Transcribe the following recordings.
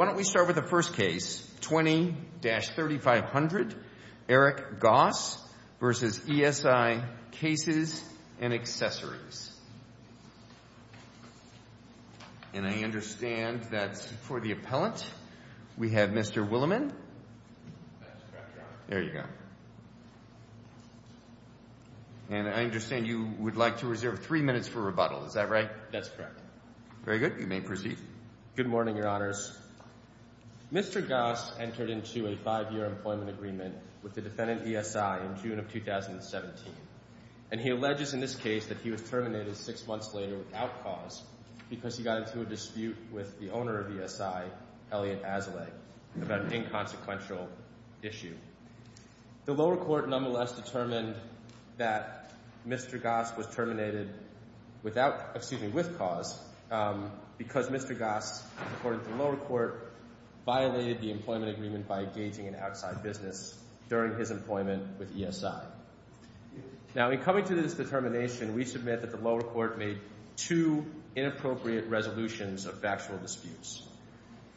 Why don't we start with the first case, 20-3500, Eric Goss v. E.S.I. Cases & Accessories. And I understand that for the appellant, we have Mr. Williman. That's correct, Your Honor. There you go. And I understand you would like to reserve three minutes for rebuttal, is that right? That's correct. Very good. You may proceed. Good morning, Your Honors. Mr. Goss entered into a five-year employment agreement with the defendant, E.S.I., in June of 2017. And he alleges in this case that he was terminated six months later without cause because he got into a dispute with the owner of E.S.I., Elliot Azalay, about an inconsequential issue. The lower court nonetheless determined that Mr. Goss was terminated without, excuse me, with cause because Mr. Goss, according to the lower court, violated the employment agreement by engaging in outside business during his employment with E.S.I. Now, in coming to this determination, we submit that the lower court made two inappropriate resolutions of factual disputes.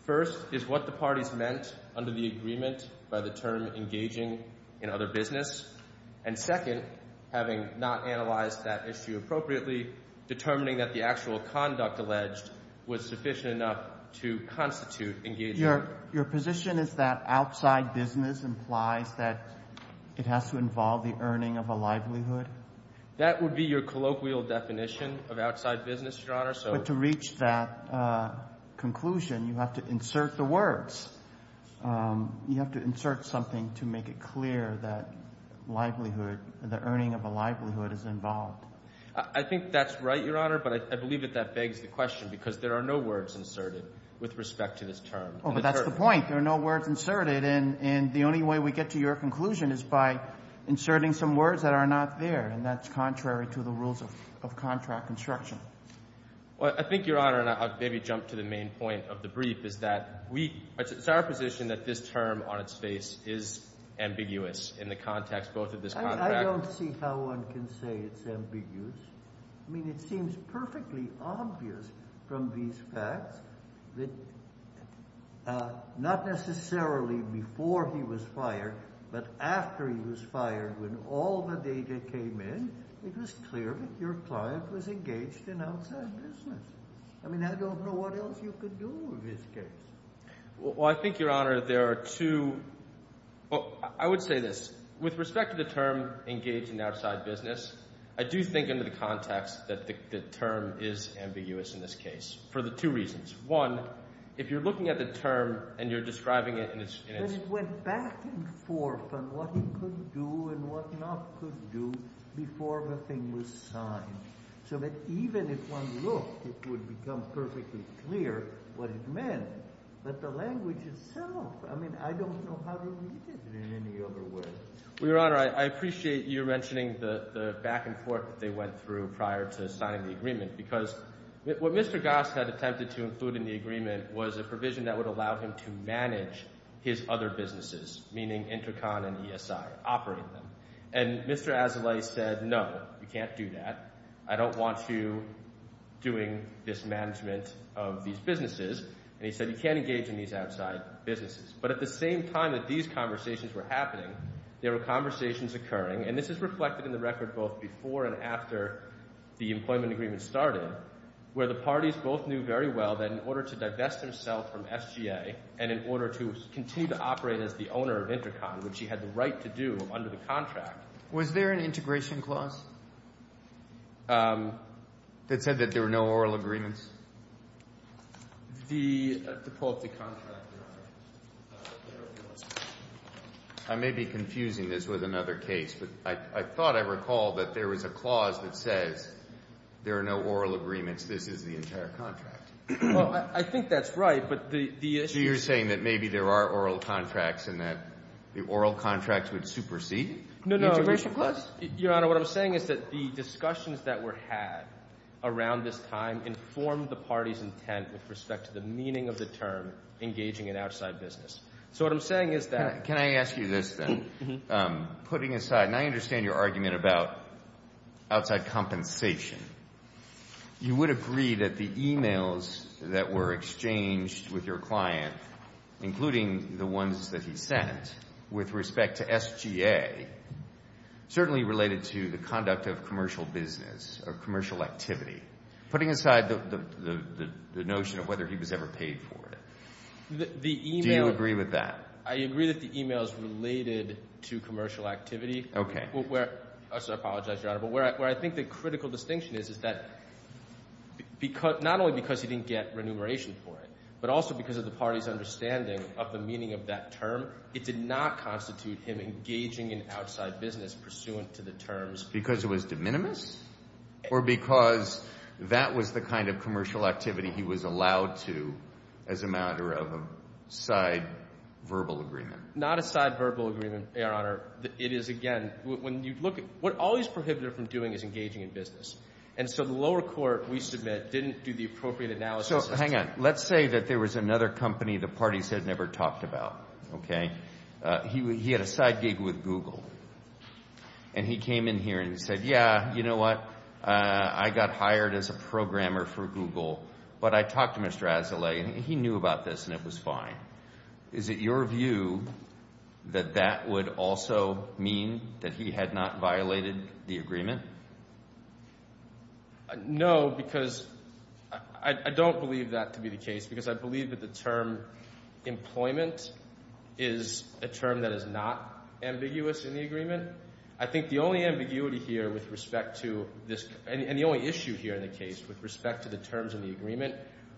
First is what the parties meant under the agreement by the term engaging in other business. And second, having not analyzed that issue appropriately, determining that the actual conduct alleged was sufficient enough to constitute engaging in other business. Your position is that outside business implies that it has to involve the earning of a livelihood? That would be your colloquial definition of outside business, Your Honor. But to reach that conclusion, you have to insert the words. You have to insert something to make it clear that livelihood, the earning of a livelihood, is involved. I think that's right, Your Honor, but I believe that that begs the question because there are no words inserted with respect to this term. Oh, but that's the point. There are no words inserted, and the only way we get to your conclusion is by inserting some words that are not there, and that's contrary to the rules of contract construction. Well, I think, Your Honor, and I'll maybe jump to the main point of the brief, is that we, it's our position that this term on its face is ambiguous in the context both of this contract. I don't see how one can say it's ambiguous. I mean, it seems perfectly obvious from these facts that not necessarily before he was fired, but after he was fired when all the data came in, it was clear that your client was engaged in outside business. I mean, I don't know what else you could do in this case. Well, I think, Your Honor, there are two, well, I would say this. With respect to the term engaged in outside business, I do think under the context that the term is ambiguous in this case for the two reasons. One, if you're looking at the term and you're describing it and it's— And it went back and forth on what he could do and what not could do before the thing was signed, so that even if one looked, it would become perfectly clear what it meant. But the language itself, I mean, I don't know how to read it in any other way. Well, Your Honor, I appreciate you mentioning the back and forth that they went through prior to signing the agreement, because what Mr. Goss had attempted to include in the agreement was a provision that would allow him to manage his other businesses, meaning Intercon and ESI, operate them. And Mr. Azoulay said, no, you can't do that. I don't want you doing this management of these businesses. And he said, you can't engage in these outside businesses. But at the same time that these conversations were happening, there were conversations occurring, and this is reflected in the record both before and after the employment agreement started, where the parties both knew very well that in order to divest themselves from SGA and in order to continue to operate as the owner of Intercon, which he had the right to do under the contract. Was there an integration clause that said that there were no oral agreements? The quality contract. I may be confusing this with another case, but I thought I recalled that there was a clause that says there are no oral agreements. This is the entire contract. Well, I think that's right, but the issue is... Oral contracts would supersede the integration clause? Your Honor, what I'm saying is that the discussions that were had around this time informed the party's intent with respect to the meaning of the term, engaging in outside business. So what I'm saying is that... Can I ask you this then? Putting aside, and I understand your argument about outside compensation. You would agree that the emails that were exchanged with your client, including the ones that he sent, with respect to SGA, certainly related to the conduct of commercial business or commercial activity. Putting aside the notion of whether he was ever paid for it, do you agree with that? The email... I agree that the email is related to commercial activity. Okay. Where... I apologize, Your Honor, but where I think the critical distinction is, is that not only because he didn't get remuneration for it, but also because of the party's understanding of the meaning of that term, it did not constitute him engaging in outside business pursuant to the terms... Because it was de minimis? Or because that was the kind of commercial activity he was allowed to as a matter of a side verbal agreement? Not a side verbal agreement, Your Honor. It is, again, when you look at... What always prohibited him from doing is engaging in business. And so the lower court, we submit, didn't do the appropriate analysis... Let's say that there was another company the parties had never talked about, okay? He had a side gig with Google. And he came in here and he said, yeah, you know what, I got hired as a programmer for Google, but I talked to Mr. Azzalea and he knew about this and it was fine. Is it your view that that would also mean that he had not violated the agreement? No, because I don't believe that to be the case, because I believe that the term employment is a term that is not ambiguous in the agreement. I think the only ambiguity here with respect to this, and the only issue here in the case with respect to the terms of the agreement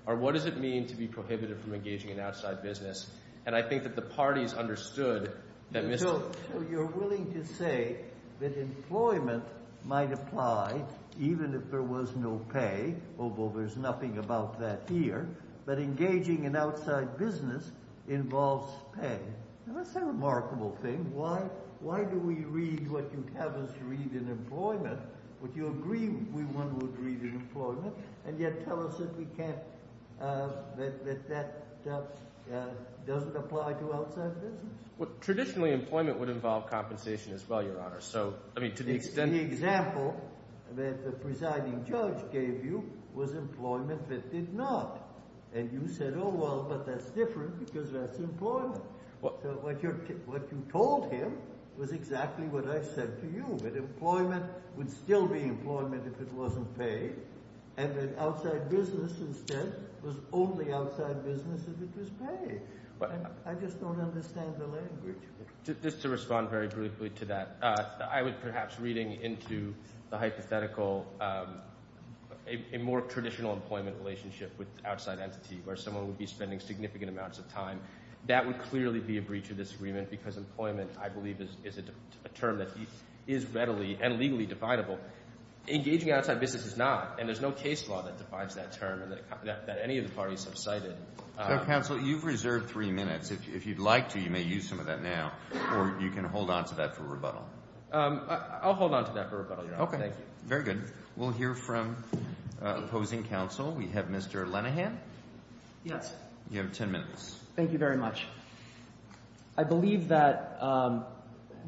are what does it mean to be prohibited from engaging in outside business? And I think that the parties understood that Mr. Azzalea... So you're willing to say that employment might apply even if there was no pay, although there's nothing about that here, but engaging in outside business involves pay. That's a remarkable thing. Why do we read what you'd have us read in employment, what you agree one would read in employment, and yet tell us that that doesn't apply to outside business? Traditionally, employment would involve compensation as well, Your Honor. So, I mean, to the extent... The example that the presiding judge gave you was employment that did not. And you said, oh, well, but that's different because that's employment. So what you told him was exactly what I said to you, that employment would still be employment if it wasn't paid, and that outside business instead was only outside business if it was paid. I just don't understand the language. Just to respond very briefly to that, I was perhaps reading into the hypothetical a more traditional employment relationship with outside entity where someone would be spending significant amounts of time. That would clearly be a breach of this agreement because employment, I believe, is a term that is readily and legally definable. Engaging outside business is not, and there's no case law that defines that term that any of the parties have cited. So, counsel, you've reserved three minutes. If you'd like to, you may use some of that now, or you can hold on to that for rebuttal. I'll hold on to that for rebuttal, Your Honor. Okay. Thank you. Very good. We'll hear from opposing counsel. We have Mr. Lenahan. Yes. You have 10 minutes. Thank you very much. I believe that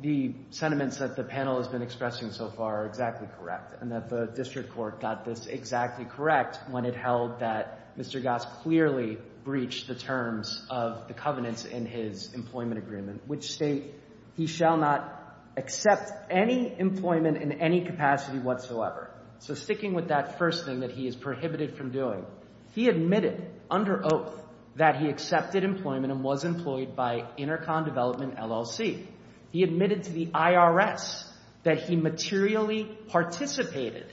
the sentiments that the panel has been expressing so far are exactly correct, and that the district court got this exactly correct when it held that Mr. Goss clearly breached the terms of the covenants in his employment agreement, which state he shall not accept any employment in any capacity whatsoever. So sticking with that first thing that he is prohibited from doing, he admitted under oath that he accepted employment and was employed by Intercom Development, LLC. He admitted to the IRS that he materially participated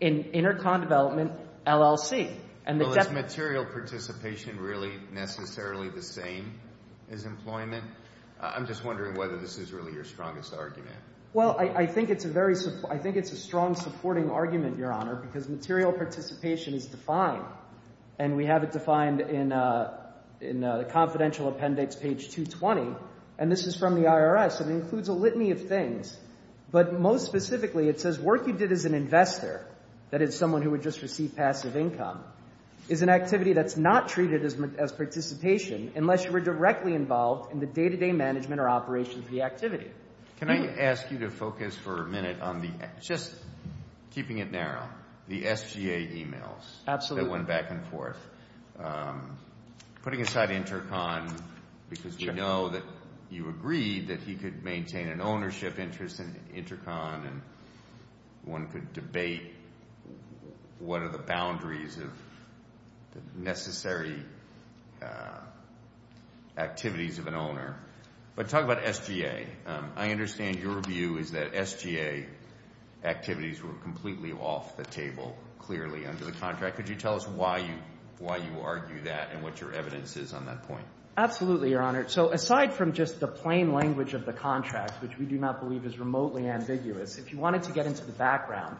in Intercom Development, LLC. Well, is material participation really necessarily the same as employment? I'm just wondering whether this is really your strongest argument. Well, I think it's a strong supporting argument, Your Honor, because material participation is defined, and we have it defined in the confidential appendix, page 220, and this is from the IRS. It includes a litany of things, but most specifically it says work you did as an investor, that is someone who would just receive passive income, is an activity that's not treated as participation unless you were directly involved in the day-to-day management or operations of the activity. Can I ask you to focus for a minute on the, just keeping it narrow, the SGA emails that went back and forth. Putting aside Intercom, because we know that you agreed that he could maintain an ownership interest in Intercom, and one could debate what are the boundaries of the necessary activities of an owner, but talk about SGA. I understand your view is that SGA activities were completely off the table, clearly, under the contract. Could you tell us why you argue that and what your evidence is on that point? Absolutely, Your Honor. So aside from just the plain language of the contract, which we do not believe is remotely ambiguous, if you wanted to get into the background,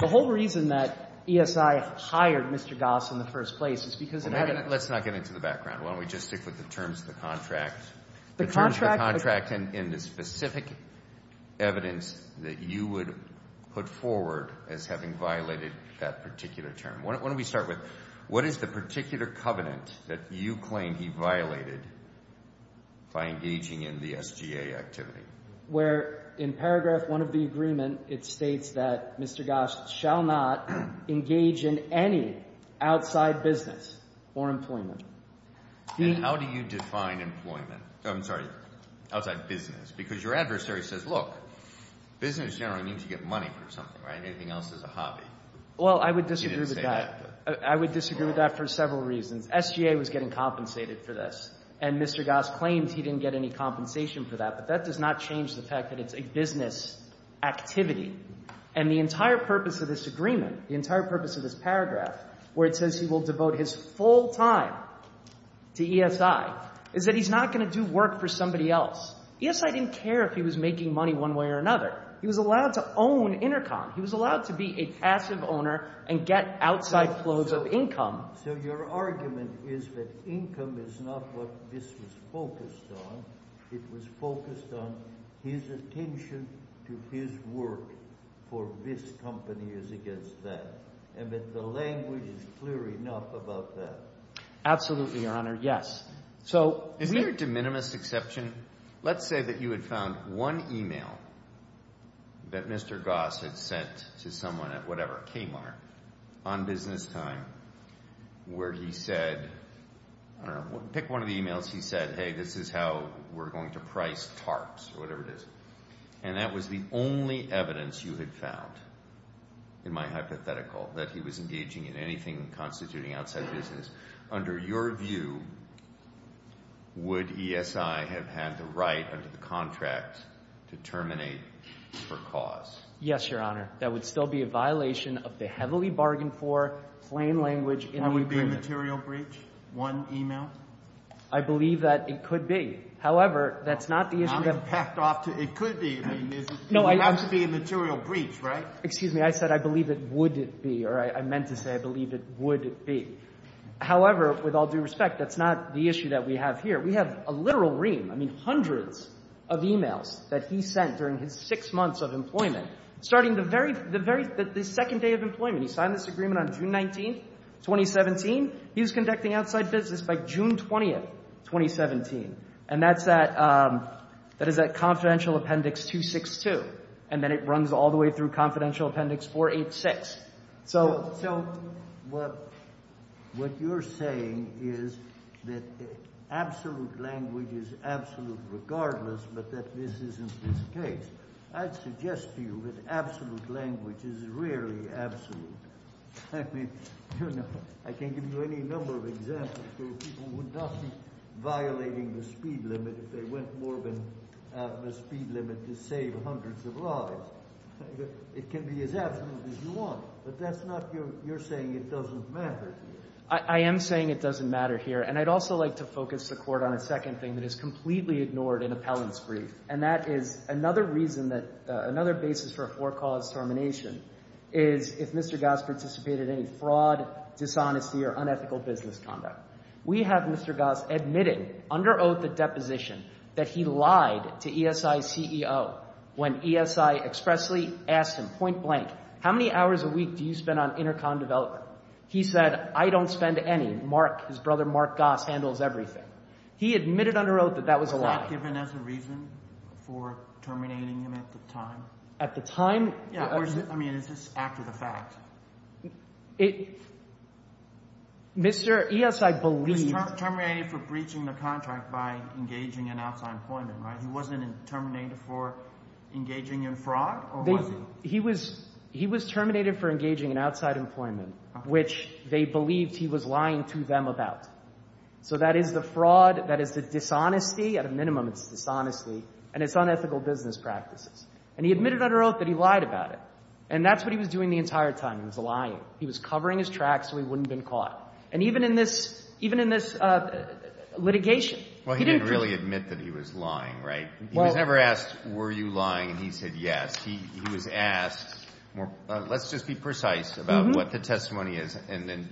the whole reason that ESI hired Mr. Goss in the first place is because it had a- Let's not get into the background. Why don't we just stick with the terms of the contract? The contract- The terms of the contract and the specific evidence that you would put forward as having violated that particular term. Why don't we start with what is the particular covenant that you claim he violated by engaging in the SGA activity? Where in paragraph 1 of the agreement, it states that Mr. Goss shall not engage in any outside business or employment. And how do you define employment? I'm sorry, outside business, because your adversary says, look, business generally means you get money for something, right? Anything else is a hobby. Well, I would disagree with that. I would disagree with that for several reasons. SGA was getting compensated for this, and Mr. Goss claims he didn't get any compensation for that, but that does not change the fact that it's a business activity. And the entire purpose of this agreement, the entire purpose of this paragraph, where it says he will devote his full time to ESI, is that he's not going to do work for somebody else. ESI didn't care if he was making money one way or another. He was allowed to own Intercom. He was allowed to be a passive owner and get outside flows of income. So your argument is that income is not what this was focused on. It was focused on his attention to his work for this company is against that, and that the language is clear enough about that. Absolutely, Your Honor, yes. So... Is there a de minimis exception? Let's say that you had found one email that Mr. Goss had sent to someone at whatever, Kmart, on business time where he said, I don't know, pick one of the emails he said, hey, this is how we're going to price tarps or whatever it is. And that was the only evidence you had found, in my hypothetical, that he was engaging in anything constituting outside business. Under your view, would ESI have had the right under the contract to terminate for cause? Yes, Your Honor. That would still be a violation of the heavily bargained for plain language in the agreement. That would be a material breach? One email? I believe that it could be. However, that's not the issue that... I'm packed off to it could be. I mean, it has to be a material breach, right? Excuse me. I said I believe it would be, or I meant to say I believe it would be. However, with all due respect, that's not the issue that we have here. We have a literal ream. I mean, hundreds of emails that he sent during his six months of employment, starting the very second day of employment. He signed this agreement on June 19th, 2017. He was conducting outside business by June 20th, 2017. And that is that confidential appendix 262. And then it runs all the way through confidential appendix 486. So what you're saying is that absolute language is absolute regardless, but that this isn't the case. I'd suggest to you that absolute language is rarely absolute. I mean, I can give you any number of examples where people would not be violating the speed limit if they went more than the speed limit to save hundreds of lives. It can be as absolute as you want, but that's not you're saying it doesn't matter. I am saying it doesn't matter here. And I'd also like to focus the court on a second thing that is completely ignored in appellant's brief. And that is another reason that, another basis for a four cause termination is if Mr. Goss participated in any fraud, dishonesty or unethical business conduct. We have Mr. Goss admitting under oath the deposition that he lied to ESI CEO when ESI expressly asked him point blank, how many hours a week do you spend on intercom development? He said, I don't spend any. Mark, his brother, Mark Goss handles everything. He admitted under oath that that was a lie. Given as a reason for terminating him at the time. At the time? Yeah, I mean, is this after the fact? Mr. ESI believed. He was terminated for breaching the contract by engaging in outside employment, right? He wasn't terminated for engaging in fraud or was he? He was terminated for engaging in outside employment, which they believed he was lying to them about. So that is the fraud. That is the dishonesty. At a minimum, it's dishonesty and it's unethical business practices. And he admitted under oath that he lied about it. And that's what he was doing the entire time. He was lying. He was covering his tracks so he wouldn't have been caught. And even in this litigation, he didn't really admit that he was lying, right? He was never asked, were you lying? And he said, yes. He was asked, let's just be precise about what the testimony is. And then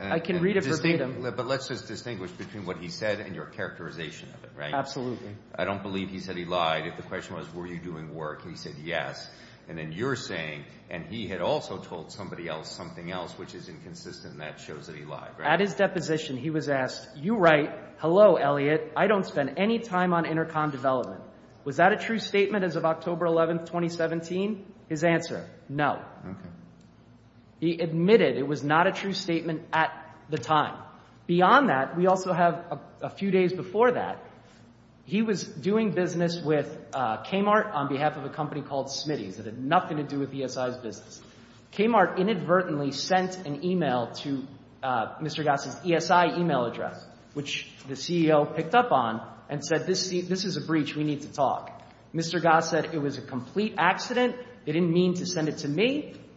I can read it. But let's just distinguish between what he said and your characterization of it, right? Absolutely. I don't believe he said he lied. If the question was, were you doing work? And he said, yes. And then you're saying, and he had also told somebody else something else, which is inconsistent. That shows that he lied. At his deposition, he was asked, you write, hello, Elliot, I don't spend any time on intercom development. Was that a true statement as of October 11th, 2017? His answer, no. OK.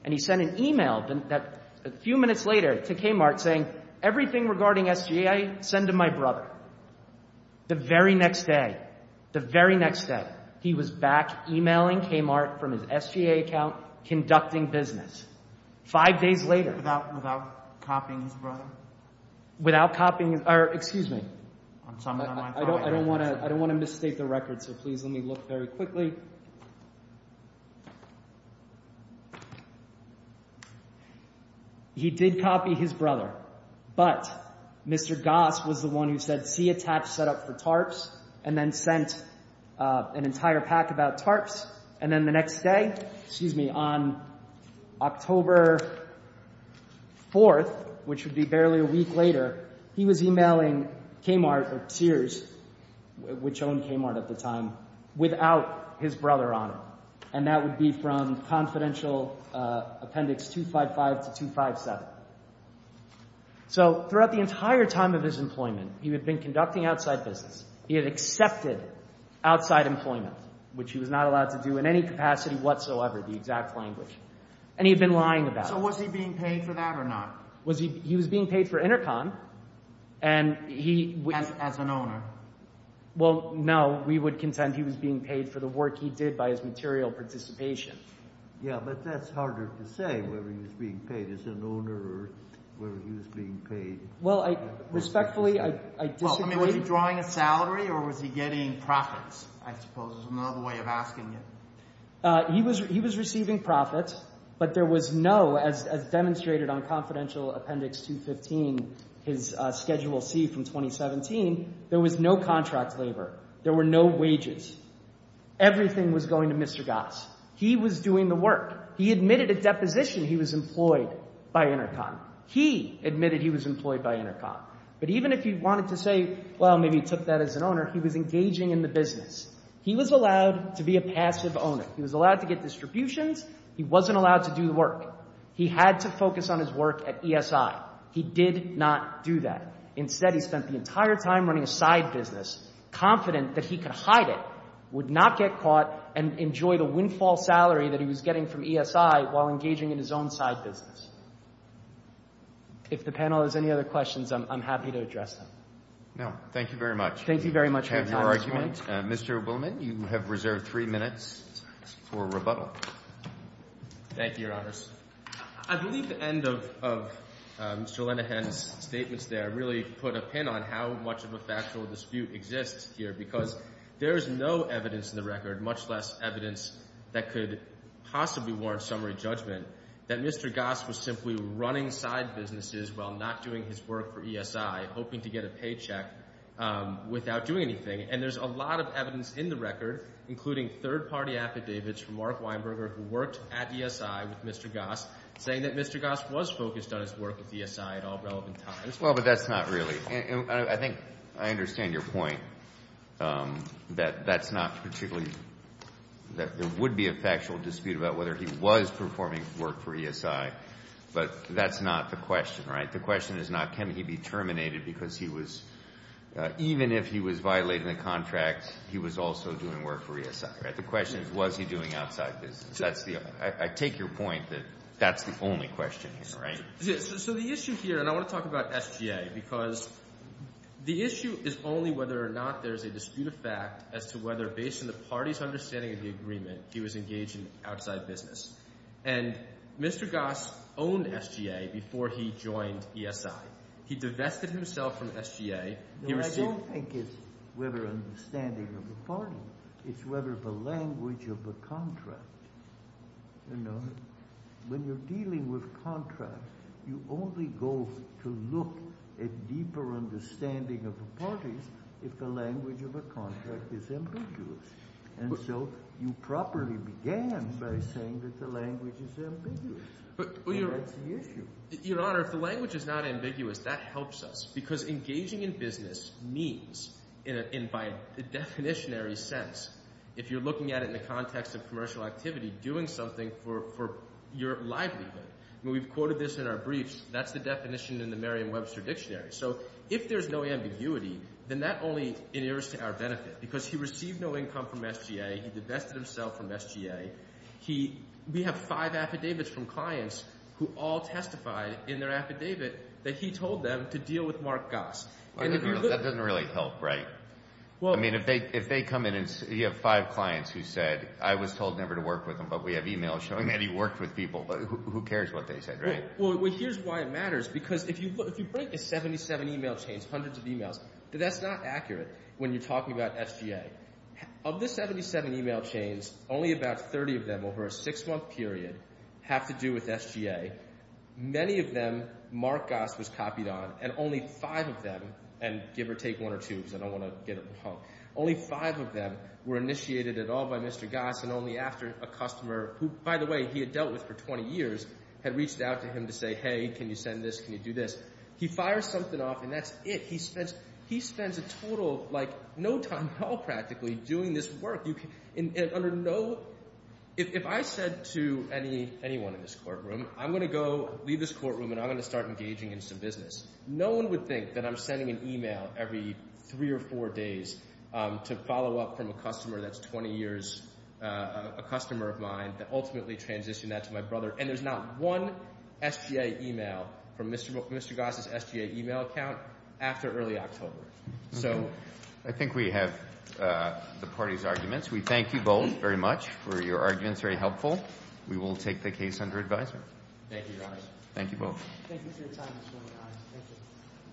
And he sent an email a few minutes later to Kmart saying, everything regarding SGA, send to my brother. The very next day, the very next day, he was back emailing Kmart from his SGA account, conducting business. Five days later. Without copying his brother? Without copying, or excuse me. I don't want to misstate the record, so please let me look very quickly. He did copy his brother, but Mr. Goss was the one who said, see attach set up for tarps, and then sent an entire pack about tarps. And then the next day, excuse me, on October 4th, which would be barely a week later, he was emailing Kmart, or Sears, which owned Kmart at the time, without his brother on it. And that would be from Confidential Appendix 255 to 257. So throughout the entire time of his employment, he had been conducting outside business. He had accepted outside employment, which he was not allowed to do in any capacity whatsoever, the exact language. And he'd been lying about it. So was he being paid for that or not? Was he, he was being paid for intercom. And he. As an owner? Well, no. We would contend he was being paid for the work he did by his material participation. Yeah. But that's harder to say whether he was being paid as an owner or whether he was being paid. Well, respectfully, I disagree. I mean, was he drawing a salary or was he getting profits? I suppose is another way of asking it. He was receiving profits, but there was no, as demonstrated on Confidential Appendix 215, his Schedule C from 2017, there was no contract labor. There were no wages. Everything was going to Mr. Goss. He was doing the work. He admitted at deposition he was employed by intercom. He admitted he was employed by intercom. But even if he wanted to say, well, maybe he took that as an owner, he was engaging in the business. He was allowed to be a passive owner. He was allowed to get distributions. He wasn't allowed to do the work. He had to focus on his work at ESI. He did not do that. Instead, he spent the entire time running a side business, confident that he could hide it, would not get caught, and enjoy the windfall salary that he was getting from ESI while engaging in his own side business. If the panel has any other questions, I'm happy to address them. No. Thank you very much for your time, Mr. Blumenthal. Mr. Blumenthal, you have reserved three minutes for rebuttal. Thank you, Your Honors. I believe the end of Mr. Lenahan's statements there really put a pin on how much of a factual dispute exists here, because there is no evidence in the record, much less evidence that could possibly warrant summary judgment, that Mr. Goss was simply running side businesses while not doing his work for ESI, hoping to get a paycheck without doing anything. And there's a lot of evidence in the record, including third-party affidavits from Mark Goss, saying that Mr. Goss was focused on his work with ESI at all relevant times. Well, but that's not really. I think I understand your point, that that's not particularly, that there would be a factual dispute about whether he was performing work for ESI, but that's not the question, right? The question is not, can he be terminated because he was, even if he was violating the contract, he was also doing work for ESI, right? The question is, was he doing outside business? I take your point that that's the only question here, right? So the issue here, and I want to talk about SGA, because the issue is only whether or not there's a dispute of fact as to whether, based on the party's understanding of the agreement, he was engaged in outside business. And Mr. Goss owned SGA before he joined ESI. He divested himself from SGA. No, I don't think it's whether understanding of the party. It's whether the language of the contract, you know, when you're dealing with contracts, you only go to look at deeper understanding of the parties if the language of a contract is ambiguous. And so you properly began by saying that the language is ambiguous. But that's the issue. Your Honor, if the language is not ambiguous, that helps us, because engaging in business means, and by the definitionary sense, if you're looking at it in the context of commercial activity, doing something for your livelihood. I mean, we've quoted this in our briefs. That's the definition in the Merriam-Webster Dictionary. So if there's no ambiguity, then that only inheres to our benefit, because he received no income from SGA. He divested himself from SGA. We have five affidavits from clients who all testified in their affidavit that he told them to deal with Mark Goss. That doesn't really help, right? I mean, if they come in and you have five clients who said, I was told never to work with them, but we have emails showing that he worked with people, but who cares what they said, right? Well, here's why it matters. Because if you break the 77 email chains, hundreds of emails, that's not accurate when you're talking about SGA. Of the 77 email chains, only about 30 of them over a six-month period have to do with SGA. Many of them, Mark Goss was copied on, and only five of them, and give or take one or two, because I don't want to get it wrong, only five of them were initiated at all by Mr. Goss, and only after a customer, who, by the way, he had dealt with for 20 years, had reached out to him to say, hey, can you send this? Can you do this? He fires something off, and that's it. He spends a total, like, no time at all, practically, doing this work. And under no, if I said to anyone in this courtroom, I'm going to go leave this courtroom, and I'm going to start engaging in some business, no one would think that I'm sending an email every three or four days to follow up from a customer that's 20 years, a customer of mine, that ultimately transitioned that to my brother, and there's not one SGA email from Mr. Goss' SGA email account after early October. So I think we have the parties' arguments. We thank you both very much for your arguments, very helpful. We will take the case under advisement. Thank you, Your Honor. Thank you both.